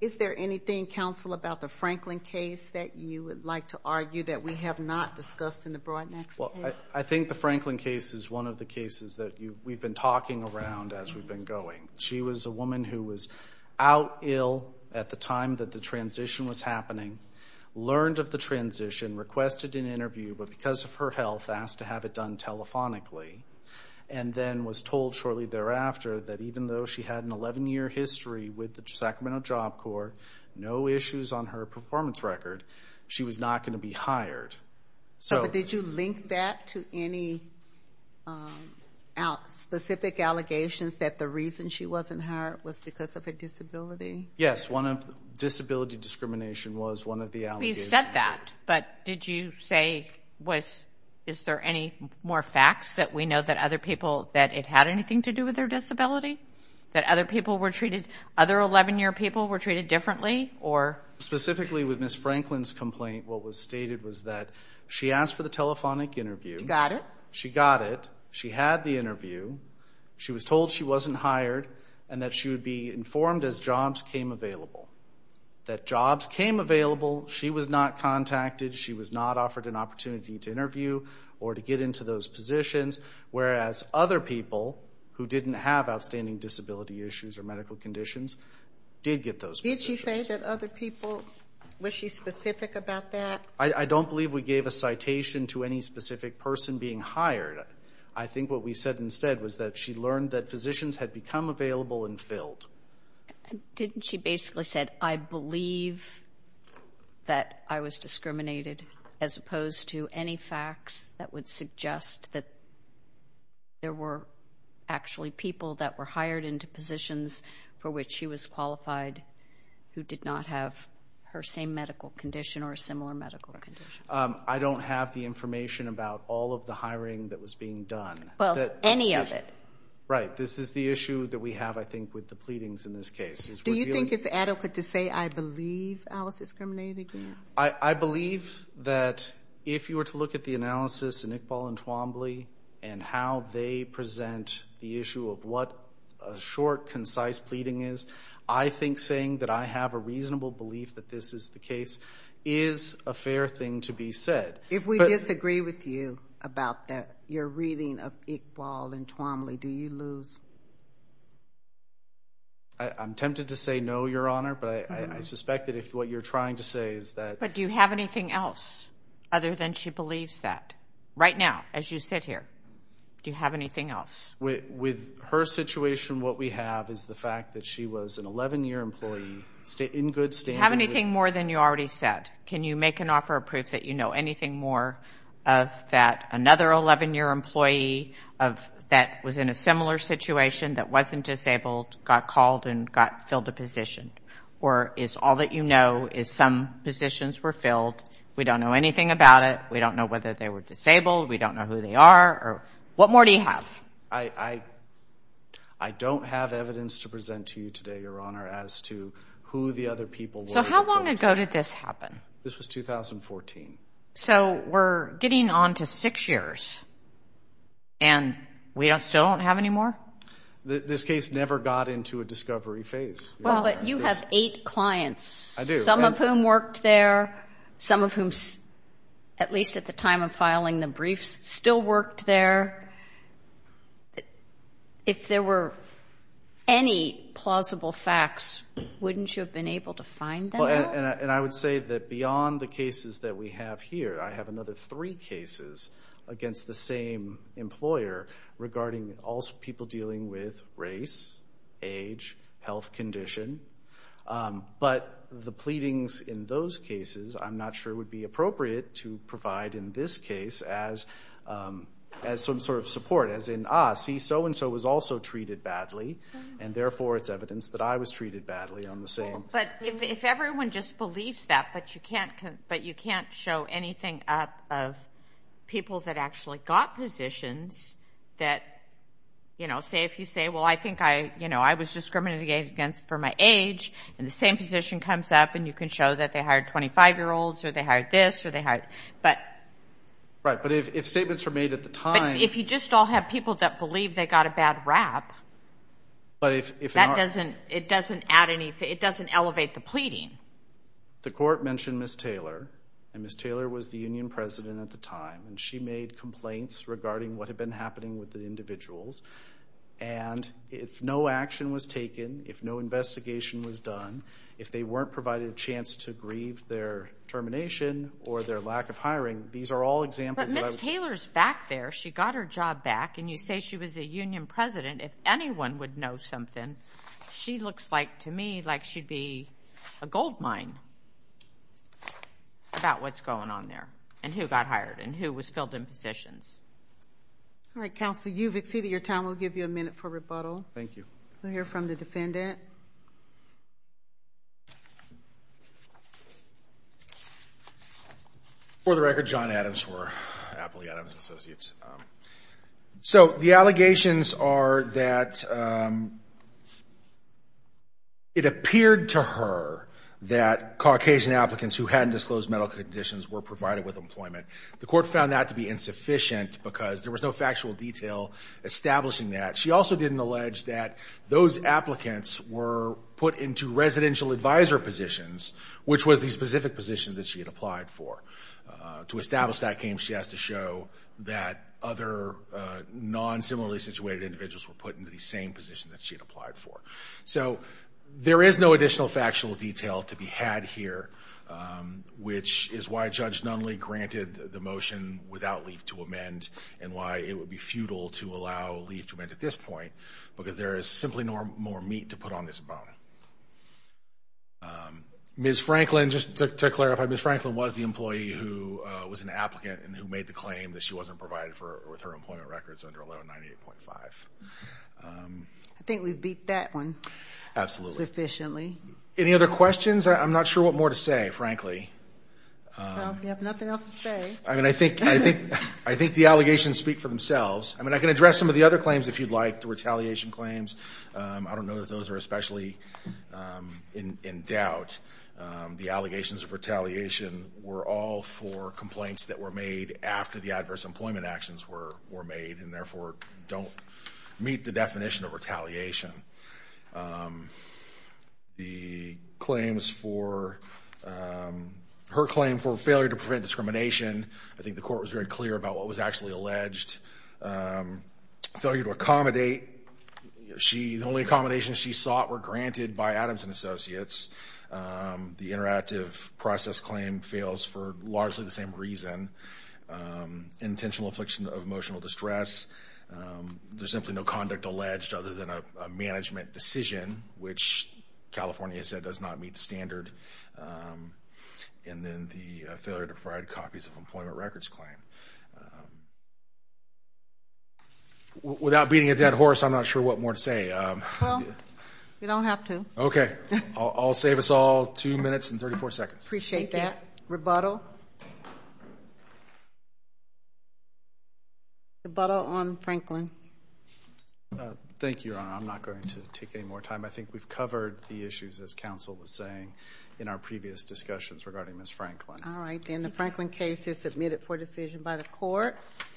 Is there anything, Counsel, about the Franklin case that you would like to argue that we have not discussed in the Broadnax case? I think the Franklin case is one of the cases that we've been talking around as we've been going. She was a woman who was out ill at the time that the transition was happening, learned of the transition, requested an interview, but because of her health, asked to have it done telephonically, and then was told shortly thereafter that even though she had an 11-year history with the Sacramento Job Corps, no issues on her performance record, she was not going to be hired. Did you link that to any specific allegations that the reason she wasn't hired was because of her disability? Yes. Disability discrimination was one of the allegations. We said that, but did you say, is there any more facts that we know that it had anything to do with her disability, that other people were treated, other 11-year people were treated differently or? Specifically with Ms. Franklin's complaint, what was stated was that she asked for the telephonic interview. She got it. She got it. She had the interview. She was told she wasn't hired and that she would be informed as jobs came available. That jobs came available, she was not contacted, she was not offered an opportunity to interview or to get into those positions, whereas other people who didn't have outstanding disability issues or medical conditions did get those positions. Did she say that other people, was she specific about that? I don't believe we gave a citation to any specific person being hired. I think what we said instead was that she learned that positions had become available and filled. Didn't she basically say, I believe that I was discriminated as opposed to any facts that would suggest that there were actually people that were hired into positions for which she was qualified who did not have her same medical condition or a similar medical condition? I don't have the information about all of the hiring that was being done. Any of it? Right. This is the issue that we have, I think, with the pleadings in this case. Do you think it's adequate to say, I believe I was discriminated against? I believe that if you were to look at the analysis in Iqbal and Twombly and how they present the issue of what a short, concise pleading is, I think saying that I have a reasonable belief that this is the case is a fair thing to be said. If we disagree with you about your reading of Iqbal and Twombly, do you lose? I'm tempted to say no, Your Honor, but I suspect that if what you're trying to say is that But do you have anything else other than she believes that? Right now, as you sit here, do you have anything else? With her situation, what we have is the fact that she was an 11-year employee in good standing Have anything more than you already said? Can you make an offer of proof that you know anything more of that another 11-year employee that was in a similar situation that wasn't disabled got called and got filled a position? Or is all that you know is some positions were filled, we don't know anything about it, we don't know whether they were disabled, we don't know who they are? What more do you have? I don't have evidence to present to you today, Your Honor, as to who the other people were How long ago did this happen? This was 2014. So we're getting on to six years, and we still don't have any more? This case never got into a discovery phase. You have eight clients, some of whom worked there, some of whom, at least at the time of filing the briefs, still worked there. If there were any plausible facts, wouldn't you have been able to find them? And I would say that beyond the cases that we have here, I have another three cases against the same employer regarding all people dealing with race, age, health condition. But the pleadings in those cases, I'm not sure would be appropriate to provide in this case as some sort of support, as in, ah, see, so-and-so was also treated badly, and therefore it's evidence that I was treated badly on the same. But if everyone just believes that, but you can't show anything up of people that actually got positions that, you know, say if you say, well, I think I was discriminated against for my age, and the same position comes up, and you can show that they hired 25-year-olds, or they hired this, or they hired, but. Right, but if statements were made at the time. If you just all have people that believe they got a bad rap, that doesn't, it doesn't add anything, it doesn't elevate the pleading. The court mentioned Ms. Taylor, and Ms. Taylor was the union president at the time, and she made complaints regarding what had been happening with the individuals. And if no action was taken, if no investigation was done, if they weren't provided a chance to grieve their termination, or their lack of hiring, these are all examples of. But Ms. Taylor's back there, she got her job back, and you say she was a union president, if anyone would know something, she looks like, to me, like she'd be a goldmine about what's going on there, and who got hired, and who was filled in positions. All right, counsel, you've exceeded your time, we'll give you a minute for rebuttal. Thank you. We'll hear from the defendant. For the record, John Adams for Appley Adams & Associates. So the allegations are that it appeared to her that Caucasian applicants who hadn't disclosed medical conditions were provided with employment. The court found that to be insufficient, because there was no factual detail establishing that. She also didn't allege that those applicants were put into residential advisor positions, which was the specific position that she had applied for. To establish that claim, she has to show that other non-similarly situated individuals were put into the same position that she had applied for. So there is no additional factual detail to be had here, which is why Judge Nunley granted the motion without leave to amend, and why it would be futile to allow leave to amend at this point, because there is simply no more meat to put on this bone. Ms. Franklin, just to clarify, Ms. Franklin was the employee who was an applicant and who made the claim that she wasn't provided with her employment records under 1198.5. I think we've beat that one. Absolutely. Sufficiently. Any other questions? I'm not sure what more to say, frankly. Well, we have nothing else to say. I mean, I think the allegations speak for themselves. I mean, I can address some of the other claims if you'd like, the retaliation claims. I don't know that those are especially in doubt. The allegations of retaliation were all for complaints that were made after the adverse employment actions were made, and therefore don't meet the definition of retaliation. The claims for, her claim for failure to prevent discrimination, I think the court was very clear. The alleged failure to accommodate, the only accommodations she sought were granted by Adams & Associates. The interactive process claim fails for largely the same reason. Intentional affliction of emotional distress. There's simply no conduct alleged other than a management decision, which California said does not meet the standard. And then the failure to provide copies of employment records claim. Without beating a dead horse, I'm not sure what more to say. Well, you don't have to. Okay. I'll save us all two minutes and 34 seconds. Appreciate that. Rebuttal? Rebuttal on Franklin. Thank you, Your Honor. I'm not going to take any more time. I think we've covered the issues, as counsel was saying, in our previous discussions regarding Ms. Franklin. All right. Then the Franklin case is submitted for decision by the court.